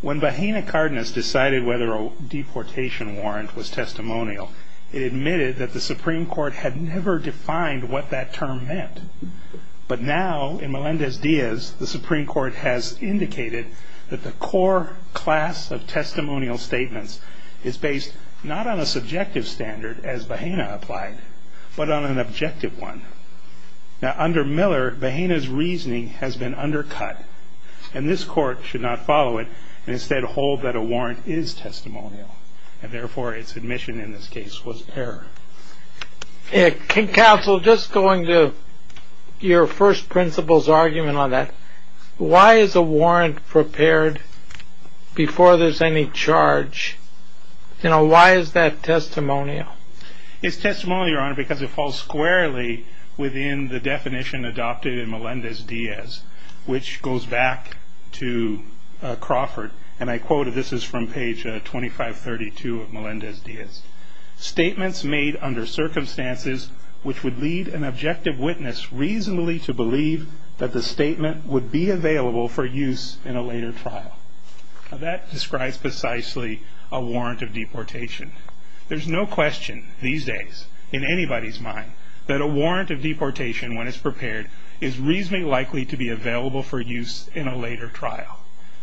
When Bajena Cardenas decided whether a deportation warrant was testimonial, it admitted that the Supreme Court had never defined what that term meant. But now in Melendez-Diaz, the Supreme Court has indicated that the core class of testimonial statements is based not on a subjective standard as Bajena applied, but on an objective one. Now under Miller, Bajena's reasoning has been undercut, and this court should not follow it, and instead hold that a warrant is testimonial, and therefore its admission in this case was error. Counsel, just going to your first principle's argument on that, why is a warrant prepared before there's any charge? You know, why is that testimonial? It's testimonial, your honor, because it falls squarely within the definition adopted in Melendez-Diaz, which goes back to Crawford, and I quoted, this is from page 2532 of Melendez-Diaz. Statements made under circumstances which would lead an objective witness reasonably to believe that the statement would be available for use in a later trial. Now that describes precisely a warrant of deportation. There's no question these days in anybody's mind that a warrant of deportation when it's prepared is reasonably likely to be available for use in a later trial.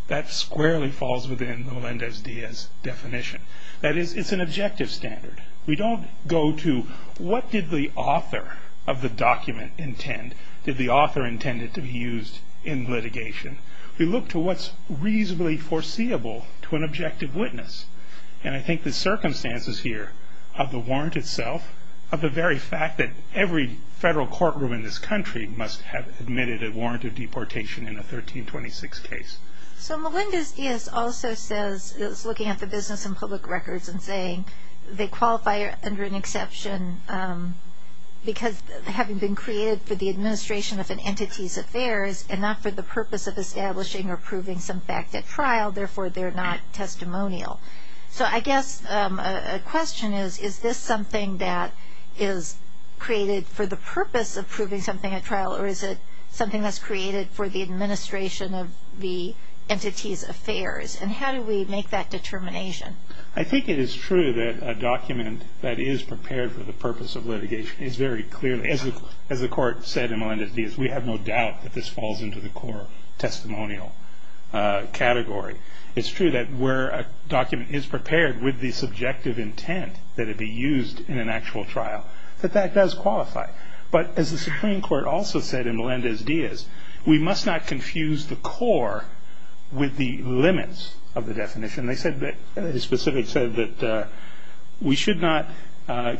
That squarely falls within Melendez-Diaz's definition. That is, it's an objective standard. We don't go to what did the author of the document intend, did the author intend it to be used in litigation. We look to what's reasonably foreseeable to an objective witness, and I think the circumstances here of the warrant itself, of the very fact that every federal courtroom in this country must have admitted a warrant of deportation in a 1326 case. So Melendez-Diaz also says, is looking at the business and public records and saying they qualify under an exception because having been created for the administration of an entity's affairs and not for the purpose of establishing or proving some fact at trial, therefore they're not testimonial. So I guess a question is, is this something that is created for the purpose of proving something at trial or is it something that's created for the administration of the entity's affairs? And how do we make that determination? I think it is true that a document that is prepared for the purpose of litigation is very clearly, as the court said in Melendez-Diaz, we have no doubt that this falls into the core testimonial category. It's true that where a document is prepared with the subjective intent that it be used in an actual trial, that that does qualify. But as the Supreme Court also said in Melendez-Diaz, we must not confuse the core with the limits of the definition. They specifically said that we should not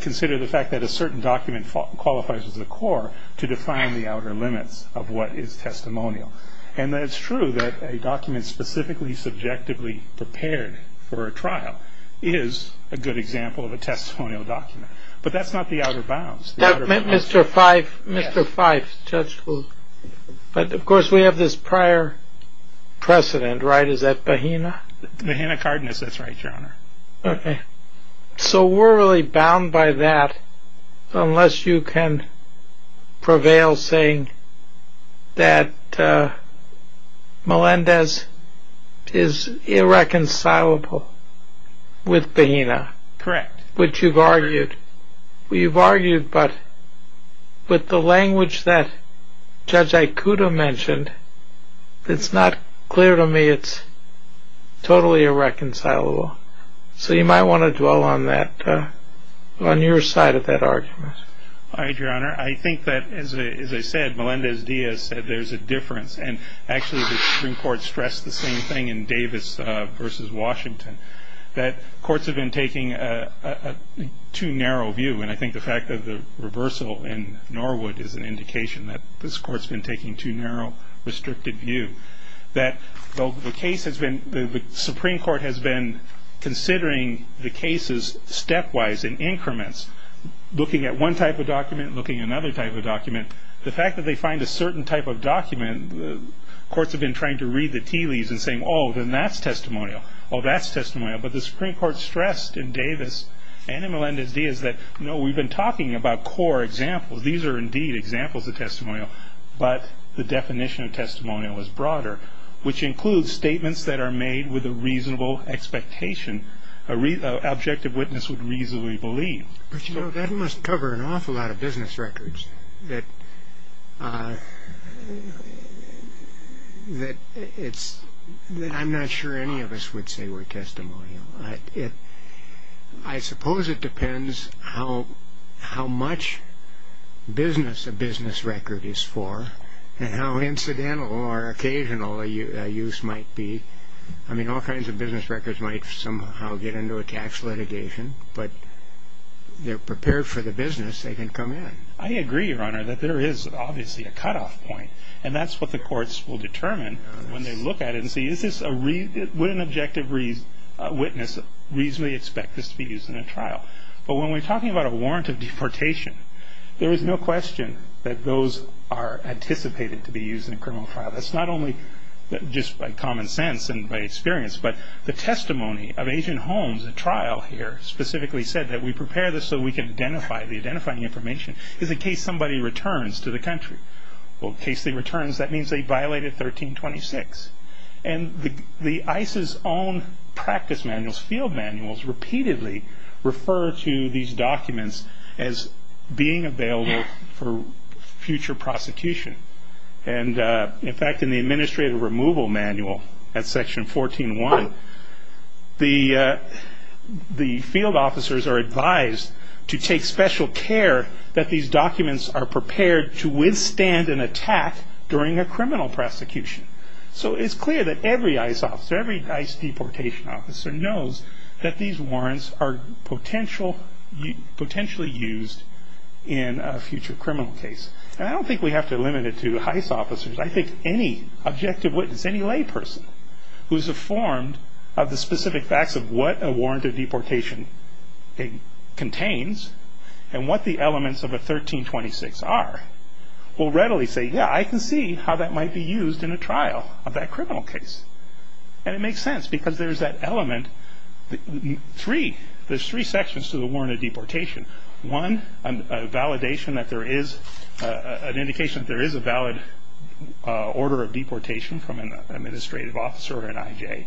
consider the fact that a certain document qualifies as the core to define the outer limits of what is testimonial. And it's true that a document specifically subjectively prepared for a trial is a good example of a testimonial document. But that's not the outer bounds. Mr. Fyfe, Mr. Fyfe. But of course we have this prior precedent, right? Is that Bahena? Bahena Cardenas, that's right, Your Honor. Okay. So we're really bound by that unless you can prevail saying that Melendez is irreconcilable with Bahena. Correct. Which you've argued. You've argued, but with the language that Judge Aikuda mentioned, it's not clear to me it's totally irreconcilable. So you might want to dwell on that, on your side of that argument. All right, Your Honor. I think that, as I said, Melendez-Diaz said there's a difference. And actually the Supreme Court stressed the same thing in Davis v. Washington, that courts have been taking a too narrow view. And I think the fact of the reversal in Norwood is an indication that this court's been taking too narrow, restricted view. That the case has been, the Supreme Court has been considering the cases stepwise in increments, looking at one type of document, looking at another type of document. The fact that they find a certain type of document, courts have been trying to read the tea leaves and saying, oh, then that's testimonial, oh, that's testimonial. But the Supreme Court stressed in Davis and in Melendez-Diaz that, no, we've been talking about core examples. These are indeed examples of testimonial. But the definition of testimonial is broader, which includes statements that are made with a reasonable expectation, an objective witness would reasonably believe. But, you know, that must cover an awful lot of business records that I'm not sure any of us would say were testimonial. I suppose it depends how much business a business record is for and how incidental or occasional a use might be. I mean, all kinds of business records might somehow get into a tax litigation, but they're prepared for the business. They can come in. I agree, Your Honor, that there is obviously a cutoff point. And that's what the courts will determine when they look at it and see, is this a, would an objective witness reasonably expect this to be used in a trial? But when we're talking about a warrant of deportation, there is no question that those are anticipated to be used in a criminal trial. That's not only just by common sense and by experience, but the testimony of Agent Holmes, a trial here, specifically said that we prepare this so we can identify the identifying information in case somebody returns to the country. Well, in case they return, that means they violated 1326. And the ICE's own practice manuals, field manuals, repeatedly refer to these documents as being available for future prosecution. And, in fact, in the administrative removal manual at Section 14-1, the field officers are advised to take special care that these documents are prepared to withstand an attack during a criminal prosecution. So it's clear that every ICE officer, every ICE deportation officer, knows that these warrants are potentially used in a future criminal case. And I don't think we have to limit it to ICE officers. I think any objective witness, any layperson who's informed of the specific facts of what a warrant of deportation contains and what the elements of a 1326 are will readily say, yeah, I can see how that might be used in a trial of that criminal case. And it makes sense because there's that element, three, there's three sections to the warrant of deportation. One, a validation that there is an indication that there is a valid order of deportation from an administrative officer or an IJ.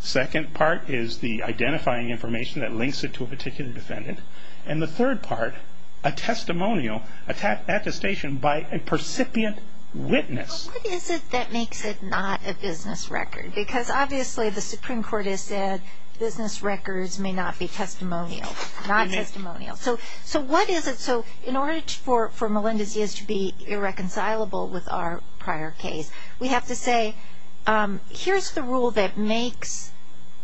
Second part is the identifying information that links it to a particular defendant. And the third part, a testimonial, an attestation by a percipient witness. But what is it that makes it not a business record? Because obviously the Supreme Court has said business records may not be testimonial, not testimonial. So what is it? So in order for Melendez-Diaz to be irreconcilable with our prior case, we have to say here's the rule that makes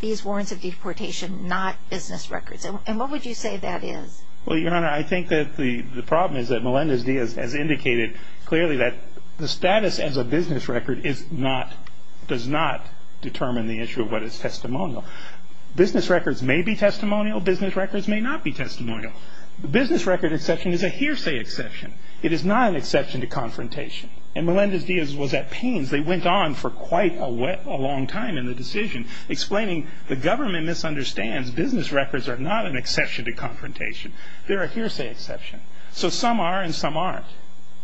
these warrants of deportation not business records. And what would you say that is? Well, Your Honor, I think that the problem is that Melendez-Diaz has indicated clearly that the status as a business record does not determine the issue of what is testimonial. Business records may be testimonial. Business records may not be testimonial. The business record exception is a hearsay exception. It is not an exception to confrontation. And Melendez-Diaz was at pains, they went on for quite a long time in the decision, explaining the government misunderstands business records are not an exception to confrontation. They're a hearsay exception. So some are and some aren't.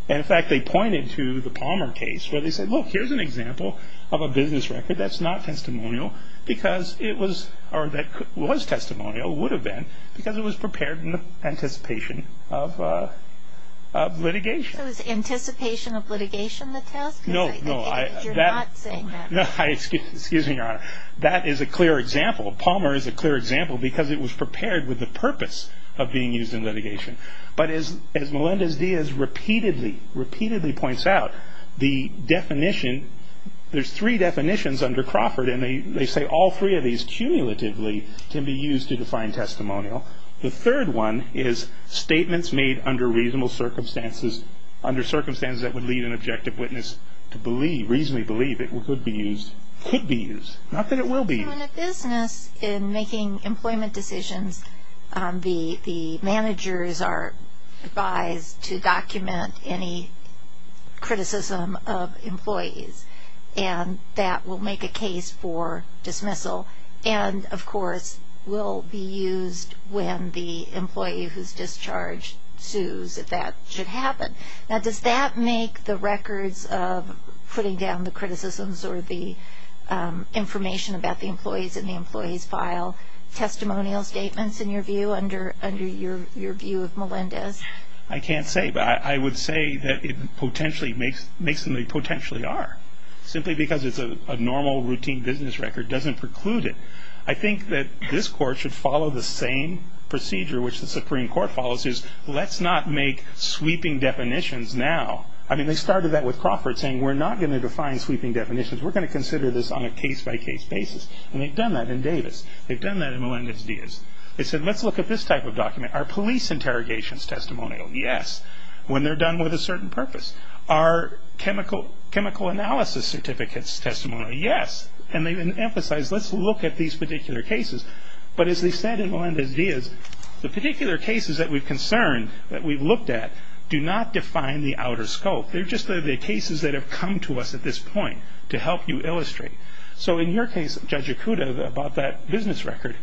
And, in fact, they pointed to the Palmer case where they said, look, here's an example of a business record that's not testimonial because it was or that was testimonial, would have been, because it was prepared in anticipation of litigation. So it's anticipation of litigation that tells? No, no. You're not saying that. Excuse me, Your Honor. That is a clear example. But as Melendez-Diaz repeatedly, repeatedly points out, the definition, there's three definitions under Crawford, and they say all three of these, cumulatively, can be used to define testimonial. The third one is statements made under reasonable circumstances, under circumstances that would lead an objective witness to believe, reasonably believe, it could be used, could be used, not that it will be used. In a business, in making employment decisions, the managers are advised to document any criticism of employees, and that will make a case for dismissal and, of course, will be used when the employee who's discharged sues, if that should happen. Now, does that make the records of putting down the criticisms or the information about the employees in the employee's file testimonial statements, in your view, under your view of Melendez? I can't say. But I would say that it potentially makes them a potentially are, simply because it's a normal, routine business record doesn't preclude it. I think that this Court should follow the same procedure, which the Supreme Court follows, is let's not make sweeping definitions now. I mean, they started that with Crawford, saying, we're not going to define sweeping definitions. We're going to consider this on a case-by-case basis. And they've done that in Davis. They've done that in Melendez-Diaz. They said, let's look at this type of document. Are police interrogations testimonial? Yes. When they're done with a certain purpose. Are chemical analysis certificates testimonial? Yes. And they then emphasized, let's look at these particular cases. But as they said in Melendez-Diaz, the particular cases that we've concerned, that we've looked at, do not define the outer scope. They're just the cases that have come to us at this point to help you illustrate. So in your case, Judge Ikuda, about that business record,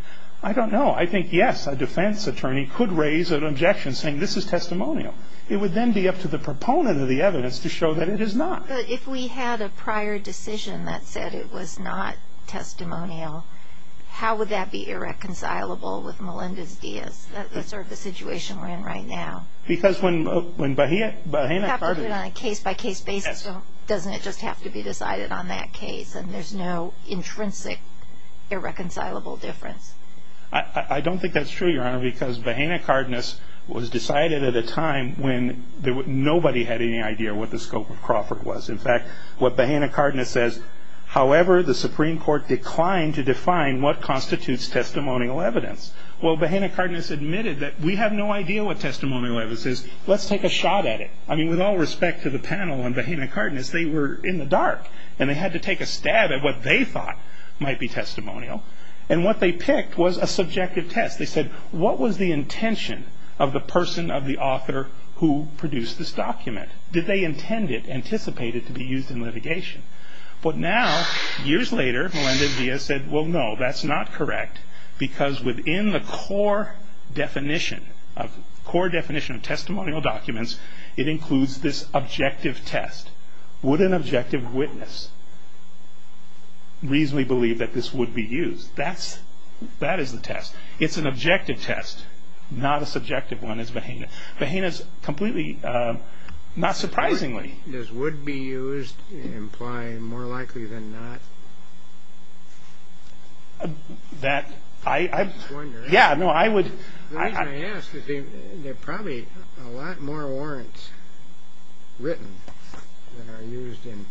I don't know. I think, yes, a defense attorney could raise an objection saying, this is testimonial. It would then be up to the proponent of the evidence to show that it is not. But if we had a prior decision that said it was not testimonial, how would that be irreconcilable with Melendez-Diaz? That's sort of the situation we're in right now. Because when Bahena Cardenas – It happened on a case-by-case basis. Doesn't it just have to be decided on that case? And there's no intrinsic irreconcilable difference. I don't think that's true, Your Honor, because Bahena Cardenas was decided at a time when nobody had any idea what the scope of Crawford was. In fact, what Bahena Cardenas says, however, the Supreme Court declined to define what constitutes testimonial evidence. Well, Bahena Cardenas admitted that we have no idea what testimonial evidence is. Let's take a shot at it. I mean, with all respect to the panel and Bahena Cardenas, they were in the dark, and they had to take a stab at what they thought might be testimonial. And what they picked was a subjective test. They said, what was the intention of the person, of the author, Did they intend it, anticipate it to be used in litigation? But now, years later, Melendez-Diaz said, Well, no, that's not correct, because within the core definition of testimonial documents, it includes this objective test. Would an objective witness reasonably believe that this would be used? That is the test. It's an objective test, not a subjective one, is Bahena. Bahena's completely, not surprisingly, This would be used, implying more likely than not. The reason I ask is there are probably a lot more warrants written that are used in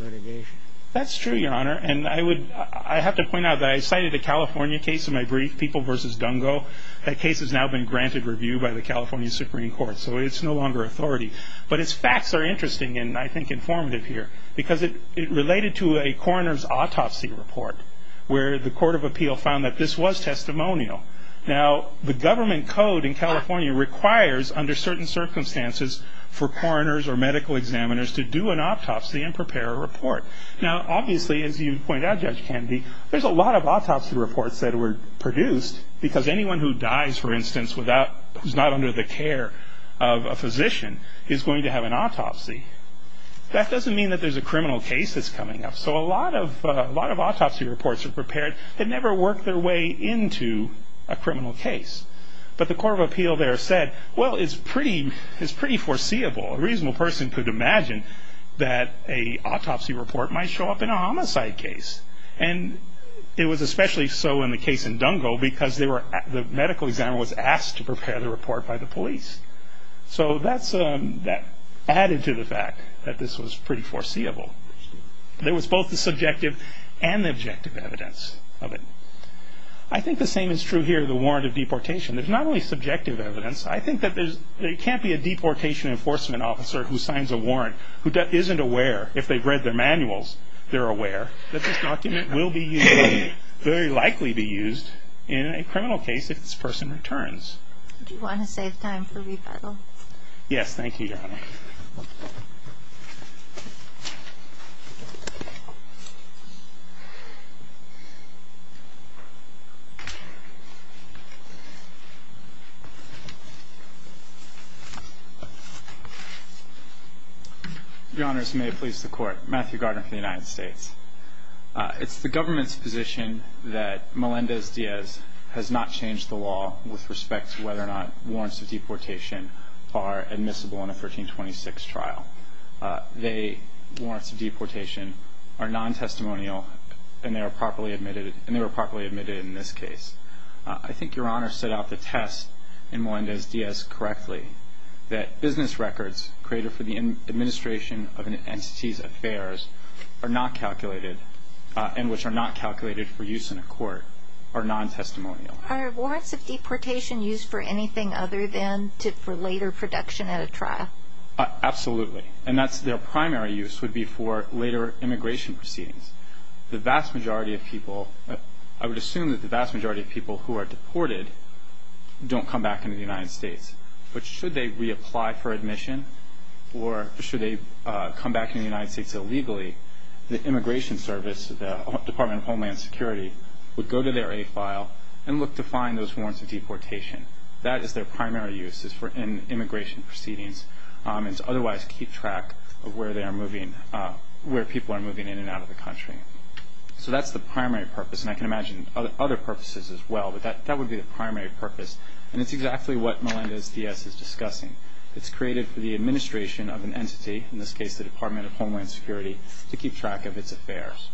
litigation. That's true, Your Honor, and I have to point out that I cited a California case in my brief, People v. Dungo. That case has now been granted review by the California Supreme Court, so it's no longer authority. But its facts are interesting, and I think informative here, because it related to a coroner's autopsy report, where the court of appeal found that this was testimonial. Now, the government code in California requires, under certain circumstances, for coroners or medical examiners to do an autopsy and prepare a report. Now, obviously, as you point out, Judge Kennedy, there's a lot of autopsy reports that were produced, because anyone who dies, for instance, who's not under the care of a physician is going to have an autopsy. That doesn't mean that there's a criminal case that's coming up. So a lot of autopsy reports were prepared that never worked their way into a criminal case. But the court of appeal there said, Well, it's pretty foreseeable. A reasonable person could imagine that an autopsy report might show up in a homicide case. And it was especially so in the case in Dungo, because the medical examiner was asked to prepare the report by the police. So that added to the fact that this was pretty foreseeable. There was both the subjective and the objective evidence of it. I think the same is true here of the warrant of deportation. There's not only subjective evidence. I think that there can't be a deportation enforcement officer who signs a warrant who isn't aware, if they've read their manuals, they're aware that this document will be used, very likely be used in a criminal case if this person returns. Do you want to save time for rebuttal? Yes, thank you, Your Honor. Your Honors, may it please the Court. Matthew Gardner for the United States. It's the government's position that Melendez-Diaz has not changed the law with respect to whether or not warrants of deportation are admissible in a 1326 trial. The warrants of deportation are non-testimonial and they were properly admitted in this case. I think Your Honor set out the test in Melendez-Diaz correctly, that business records created for the administration of an entity's affairs are not calculated and which are not calculated for use in a court, are non-testimonial. Are warrants of deportation used for anything other than for later production at a trial? Absolutely. And their primary use would be for later immigration proceedings. The vast majority of people, I would assume that the vast majority of people who are deported don't come back into the United States. But should they reapply for admission or should they come back into the United States illegally, the Immigration Service, the Department of Homeland Security, would go to their AFILE and look to find those warrants of deportation. That is their primary use, is for immigration proceedings and to otherwise keep track of where they are moving, where people are moving in and out of the country. So that's the primary purpose, and I can imagine other purposes as well, but that would be the primary purpose. And it's exactly what Melendez-Diaz is discussing. It's created for the administration of an entity, in this case the Department of Homeland Security, to keep track of its affairs.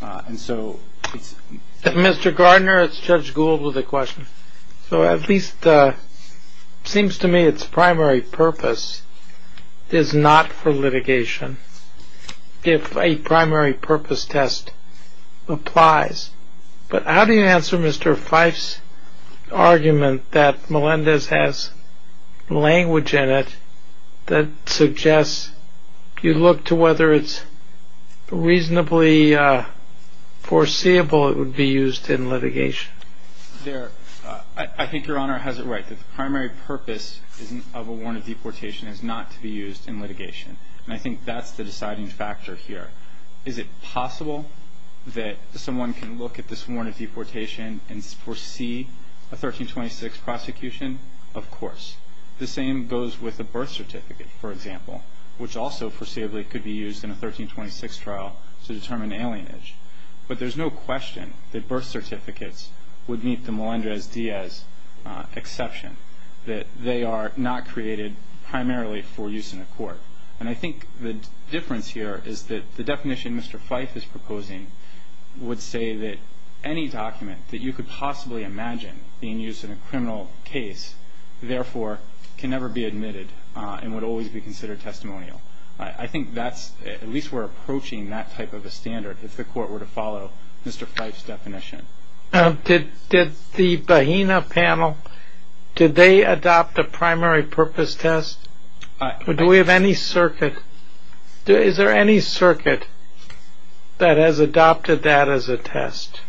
And so it's... Mr. Gardner, it's Judge Gould with a question. So at least it seems to me its primary purpose is not for litigation if a primary purpose test applies. But how do you answer Mr. Fife's argument that Melendez has language in it that suggests you look to whether it's reasonably foreseeable it would be used in litigation? I think Your Honor has it right, that the primary purpose of a warrant of deportation is not to be used in litigation. And I think that's the deciding factor here. Is it possible that someone can look at this warrant of deportation and foresee a 1326 prosecution? Of course. The same goes with a birth certificate, for example, which also foreseeably could be used in a 1326 trial to determine alienage. But there's no question that birth certificates would meet the Melendez-Diaz exception, that they are not created primarily for use in a court. And I think the difference here is that the definition Mr. Fife is proposing would say that any document that you could possibly imagine being used in a criminal case, therefore, can never be admitted and would always be considered testimonial. I think that's, at least we're approaching that type of a standard if the court were to follow Mr. Fife's definition. Did the Bahena panel, did they adopt a primary purpose test? Do we have any circuit? Is there any circuit that has adopted that as a test?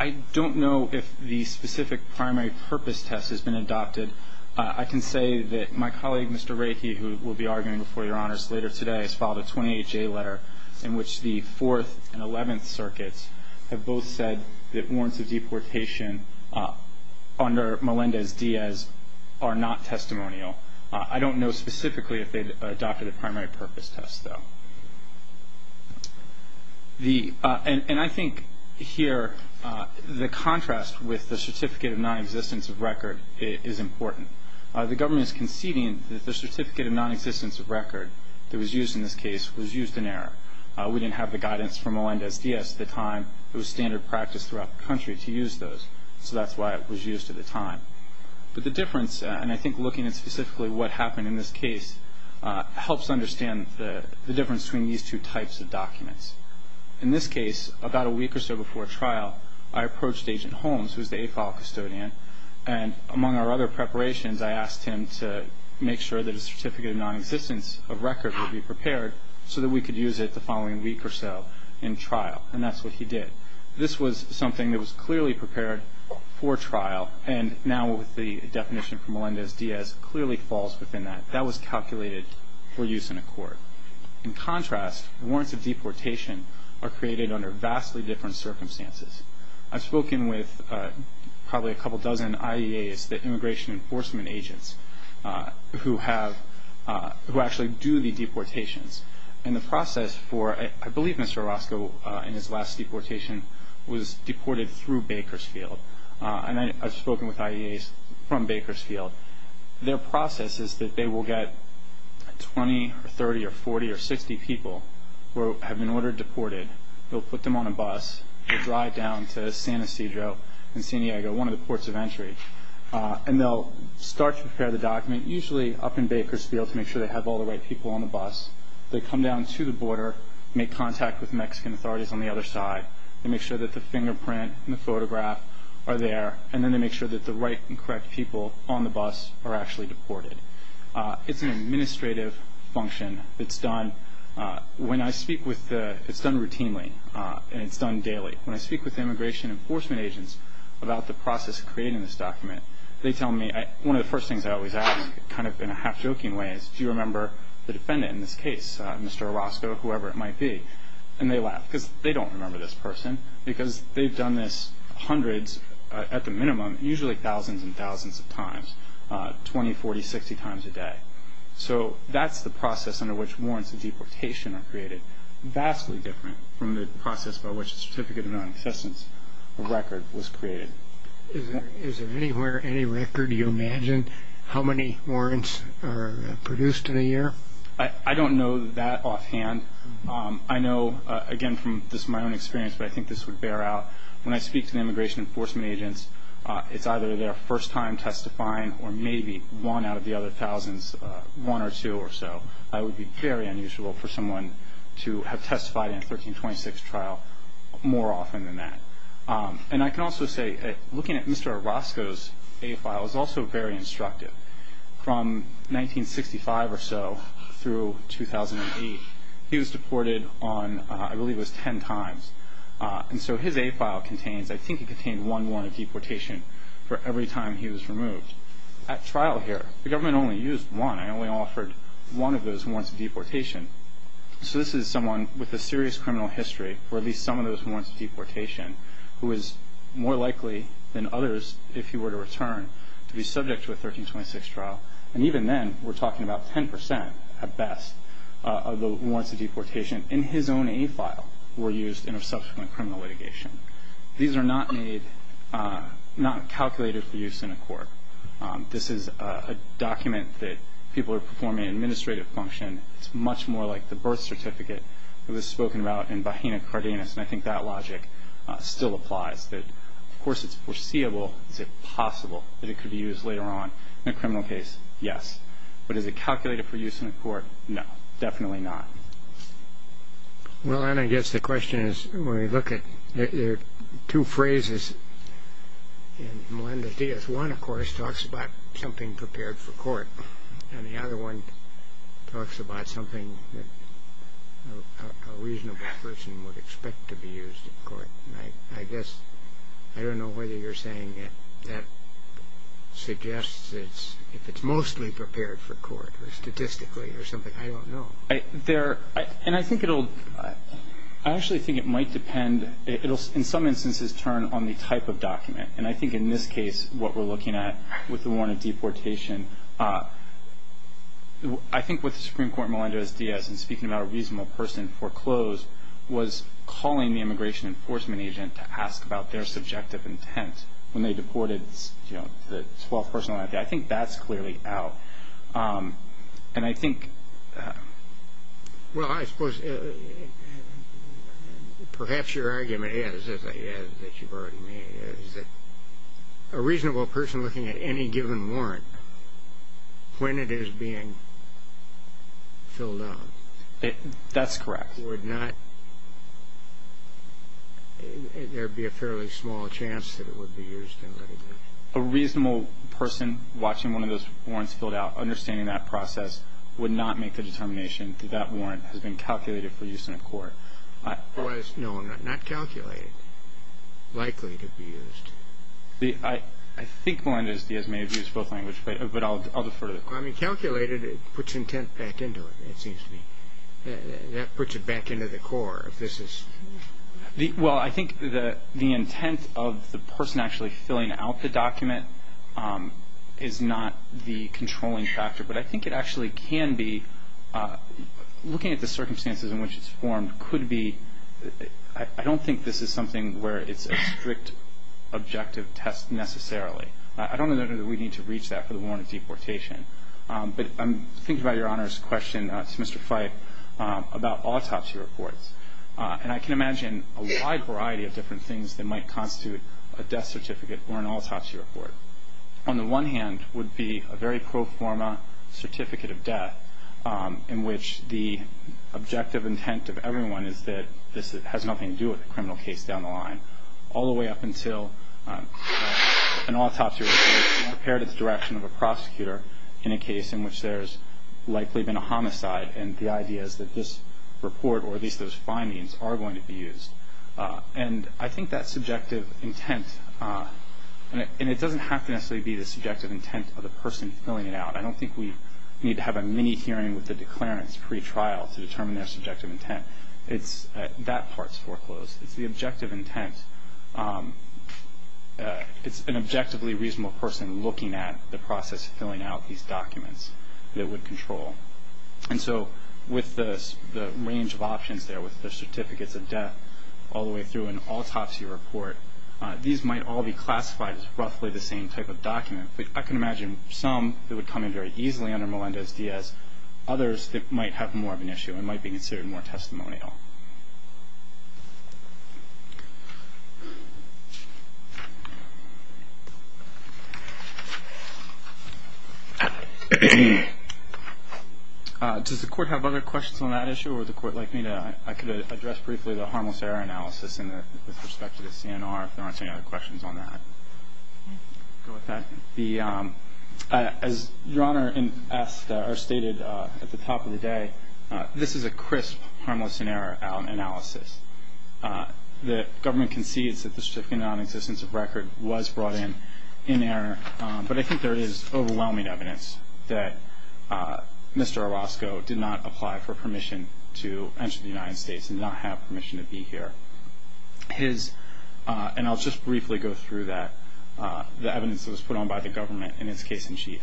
I don't know if the specific primary purpose test has been adopted. I can say that my colleague, Mr. Reiki, who will be arguing before Your Honors later today, has filed a 28-J letter in which the Fourth and Eleventh Circuits have both said that warrants of deportation under Melendez-Diaz are not testimonial. I don't know specifically if they adopted a primary purpose test, though. And I think here the contrast with the certificate of nonexistence of record is important. The government is conceding that the certificate of nonexistence of record that was used in this case was used in error. We didn't have the guidance from Melendez-Diaz at the time. It was standard practice throughout the country to use those, so that's why it was used at the time. But the difference, and I think looking at specifically what happened in this case, helps understand the difference between these two types of documents. In this case, about a week or so before trial, I approached Agent Holmes, who is the AFOL custodian, and among our other preparations I asked him to make sure that a certificate of nonexistence of record would be prepared so that we could use it the following week or so in trial, and that's what he did. This was something that was clearly prepared for trial, and now with the definition from Melendez-Diaz clearly falls within that. That was calculated for use in a court. In contrast, warrants of deportation are created under vastly different circumstances. I've spoken with probably a couple dozen IEAs, the immigration enforcement agents, who actually do the deportations. I believe Mr. Orozco, in his last deportation, was deported through Bakersfield, and I've spoken with IEAs from Bakersfield. Their process is that they will get 20 or 30 or 40 or 60 people who have been ordered deported. They'll put them on a bus, they'll drive down to San Ysidro and San Diego, one of the ports of entry, and they'll start to prepare the document, usually up in Bakersfield, to make sure they have all the right people on the bus. They come down to the border, make contact with Mexican authorities on the other side, and make sure that the fingerprint and the photograph are there, and then they make sure that the right and correct people on the bus are actually deported. It's an administrative function. It's done routinely, and it's done daily. When I speak with immigration enforcement agents about the process of creating this document, they tell me one of the first things I always ask, kind of in a half-joking way, is do you remember the defendant in this case, Mr. Orozco, whoever it might be? And they laugh because they don't remember this person because they've done this hundreds, at the minimum, usually thousands and thousands of times, 20, 40, 60 times a day. So that's the process under which warrants of deportation are created. Vastly different from the process by which the Certificate of Non-Existence record was created. Is there anywhere any record you imagine how many warrants are produced in a year? I don't know that offhand. I know, again, from my own experience, but I think this would bear out. When I speak to the immigration enforcement agents, it's either their first time testifying or maybe one out of the other thousands, one or two or so. That would be very unusual for someone to have testified in a 1326 trial more often than that. And I can also say, looking at Mr. Orozco's A file, it's also very instructive. From 1965 or so through 2008, he was deported on, I believe it was 10 times. And so his A file contains, I think it contained one warrant of deportation for every time he was removed. At trial here, the government only used one. I only offered one of those warrants of deportation. So this is someone with a serious criminal history, or at least some of those warrants of deportation, who is more likely than others, if he were to return, to be subject to a 1326 trial. And even then, we're talking about 10 percent at best of the warrants of deportation in his own A file were used in a subsequent criminal litigation. These are not made, not calculated for use in a court. This is a document that people are performing an administrative function. It's much more like the birth certificate that was spoken about in Bajena Cardenas, and I think that logic still applies. Of course, it's foreseeable. Is it possible that it could be used later on in a criminal case? Yes. But is it calculated for use in a court? No, definitely not. Well, and I guess the question is, when we look at two phrases in Melinda Diaz, one, of course, talks about something prepared for court, and the other one talks about something that a reasonable person would expect to be used in court. And I guess, I don't know whether you're saying that suggests if it's mostly prepared for court, or statistically, or something. I don't know. There, and I think it'll, I actually think it might depend, in some instances, turn on the type of document. And I think in this case, what we're looking at with the warrant of deportation, I think what the Supreme Court, Melinda Diaz, in speaking about a reasonable person foreclosed, was calling the immigration enforcement agent to ask about their subjective intent when they deported the 12th person. I think that's clearly out. And I think... Well, I suppose perhaps your argument is, as you've already made, is that a reasonable person looking at any given warrant when it is being filled out... That's correct. ...would not, there'd be a fairly small chance that it would be used in litigation. A reasonable person watching one of those warrants filled out, understanding that process, would not make the determination that that warrant has been calculated for use in a court. No, not calculated. Likely to be used. I think Melinda Diaz may have used both languages, but I'll defer to the court. I mean, calculated puts intent back into it, it seems to me. That puts it back into the court, if this is... Well, I think the intent of the person actually filling out the document is not the controlling factor. But I think it actually can be... Looking at the circumstances in which it's formed could be... I don't think this is something where it's a strict objective test necessarily. I don't know that we need to reach that for the warrant of deportation. But I'm thinking about your Honor's question to Mr. Fyfe about autopsy reports. And I can imagine a wide variety of different things that might constitute a death certificate or an autopsy report. On the one hand would be a very pro forma certificate of death in which the objective intent of everyone is that this has nothing to do with the criminal case down the line, all the way up until an autopsy report is prepared at the direction of a prosecutor in a case in which there's likely been a homicide and the idea is that this report, or at least those findings, are going to be used. And I think that subjective intent... And it doesn't have to necessarily be the subjective intent of the person filling it out. I don't think we need to have a mini hearing with the declarants pre-trial to determine their subjective intent. That part's foreclosed. It's the objective intent. It's an objectively reasonable person looking at the process of filling out these documents that would control. And so with the range of options there with the certificates of death all the way through an autopsy report, these might all be classified as roughly the same type of document. I can imagine some that would come in very easily under Melendez-Diaz, others that might have more of an issue and might be considered more testimonial. Does the Court have other questions on that issue? Or would the Court like me to... I could address briefly the harmless error analysis with respect to the CNR if there aren't any other questions on that. Go with that. As Your Honor stated at the top of the day, this is a crisp harmless and error analysis. The government concedes that the certificate of non-existence of record was brought in in error, but I think there is overwhelming evidence that Mr. Orozco did not apply for permission to enter the United States and not have permission to be here. His, and I'll just briefly go through that, the evidence that was put on by the government in its case in chief.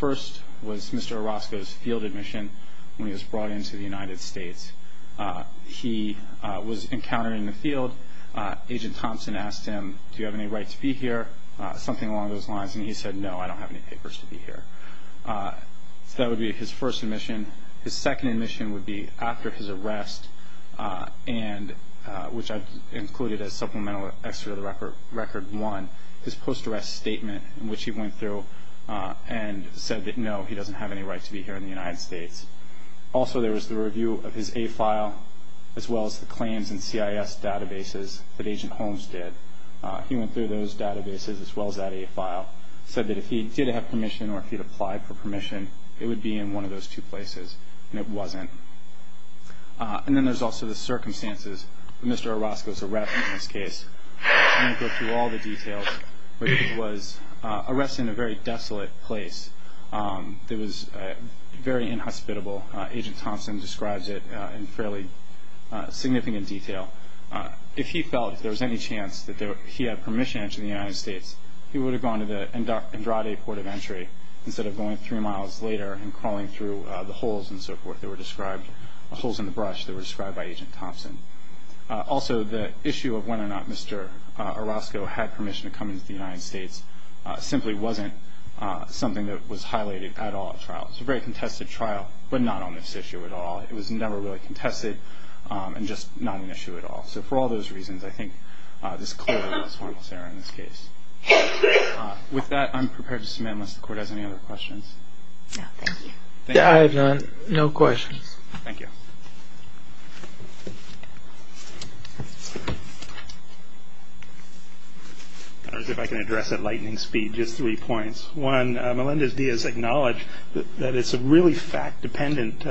First was Mr. Orozco's field admission when he was brought into the United States. He was encountered in the field. Agent Thompson asked him, Do you have any right to be here? Something along those lines. And he said, No, I don't have any papers to be here. So that would be his first admission. His second admission would be after his arrest, which I've included as supplemental extra to the record one, his post-arrest statement in which he went through and said that, No, he doesn't have any right to be here in the United States. Also there was the review of his A file as well as the claims and CIS databases that Agent Holmes did. He went through those databases as well as that A file, said that if he did have permission or if he'd applied for permission, it would be in one of those two places, and it wasn't. And then there's also the circumstances of Mr. Orozco's arrest in this case. I'm going to go through all the details, but he was arrested in a very desolate place. It was very inhospitable. Agent Thompson describes it in fairly significant detail. If he felt there was any chance that he had permission to enter the United States, he would have gone to the Andrade Port of Entry instead of going three miles later and crawling through the holes and so forth that were described, the holes in the brush that were described by Agent Thompson. Also the issue of whether or not Mr. Orozco had permission to come into the United States simply wasn't something that was highlighted at all at trial. It was a very contested trial, but not on this issue at all. It was never really contested and just not an issue at all. So for all those reasons, I think this clearly was Holmes' error in this case. With that, I'm prepared to submit unless the Court has any other questions. No, thank you. I have none. No questions. Thank you. I don't know if I can address at lightning speed just three points. One, Melendez-Diaz acknowledged that it's a really fact-dependent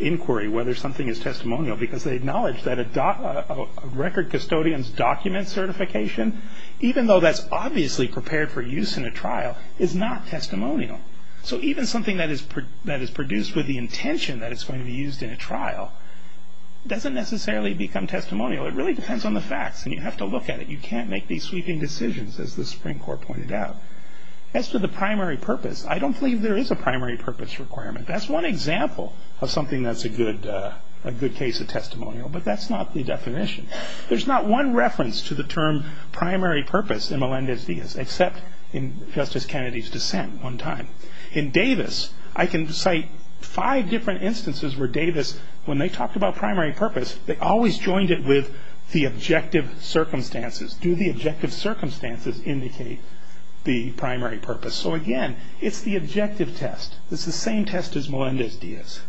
inquiry whether something is testimonial because they acknowledge that a record custodian's document certification, even though that's obviously prepared for use in a trial, is not testimonial. So even something that is produced with the intention that it's going to be used in a trial doesn't necessarily become testimonial. It really depends on the facts, and you have to look at it. You can't make these sweeping decisions, as the Supreme Court pointed out. As to the primary purpose, I don't believe there is a primary purpose requirement. That's one example of something that's a good case of testimonial, but that's not the definition. There's not one reference to the term primary purpose in Melendez-Diaz, except in Justice Kennedy's dissent one time. In Davis, I can cite five different instances where Davis, when they talked about primary purpose, they always joined it with the objective circumstances. Do the objective circumstances indicate the primary purpose? So, again, it's the objective test. It's the same test as Melendez-Diaz.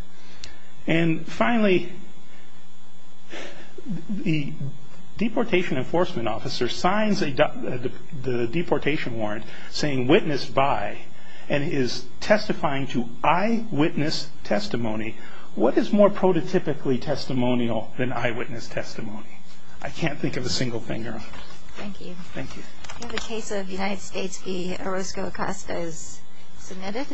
And finally, the deportation enforcement officer signs the deportation warrant, saying witness by, and is testifying to eyewitness testimony. What is more prototypically testimonial than eyewitness testimony? I can't think of a single thing, Your Honor. Thank you. Thank you. In the case of the United States v. Orozco-Acostas, submitted?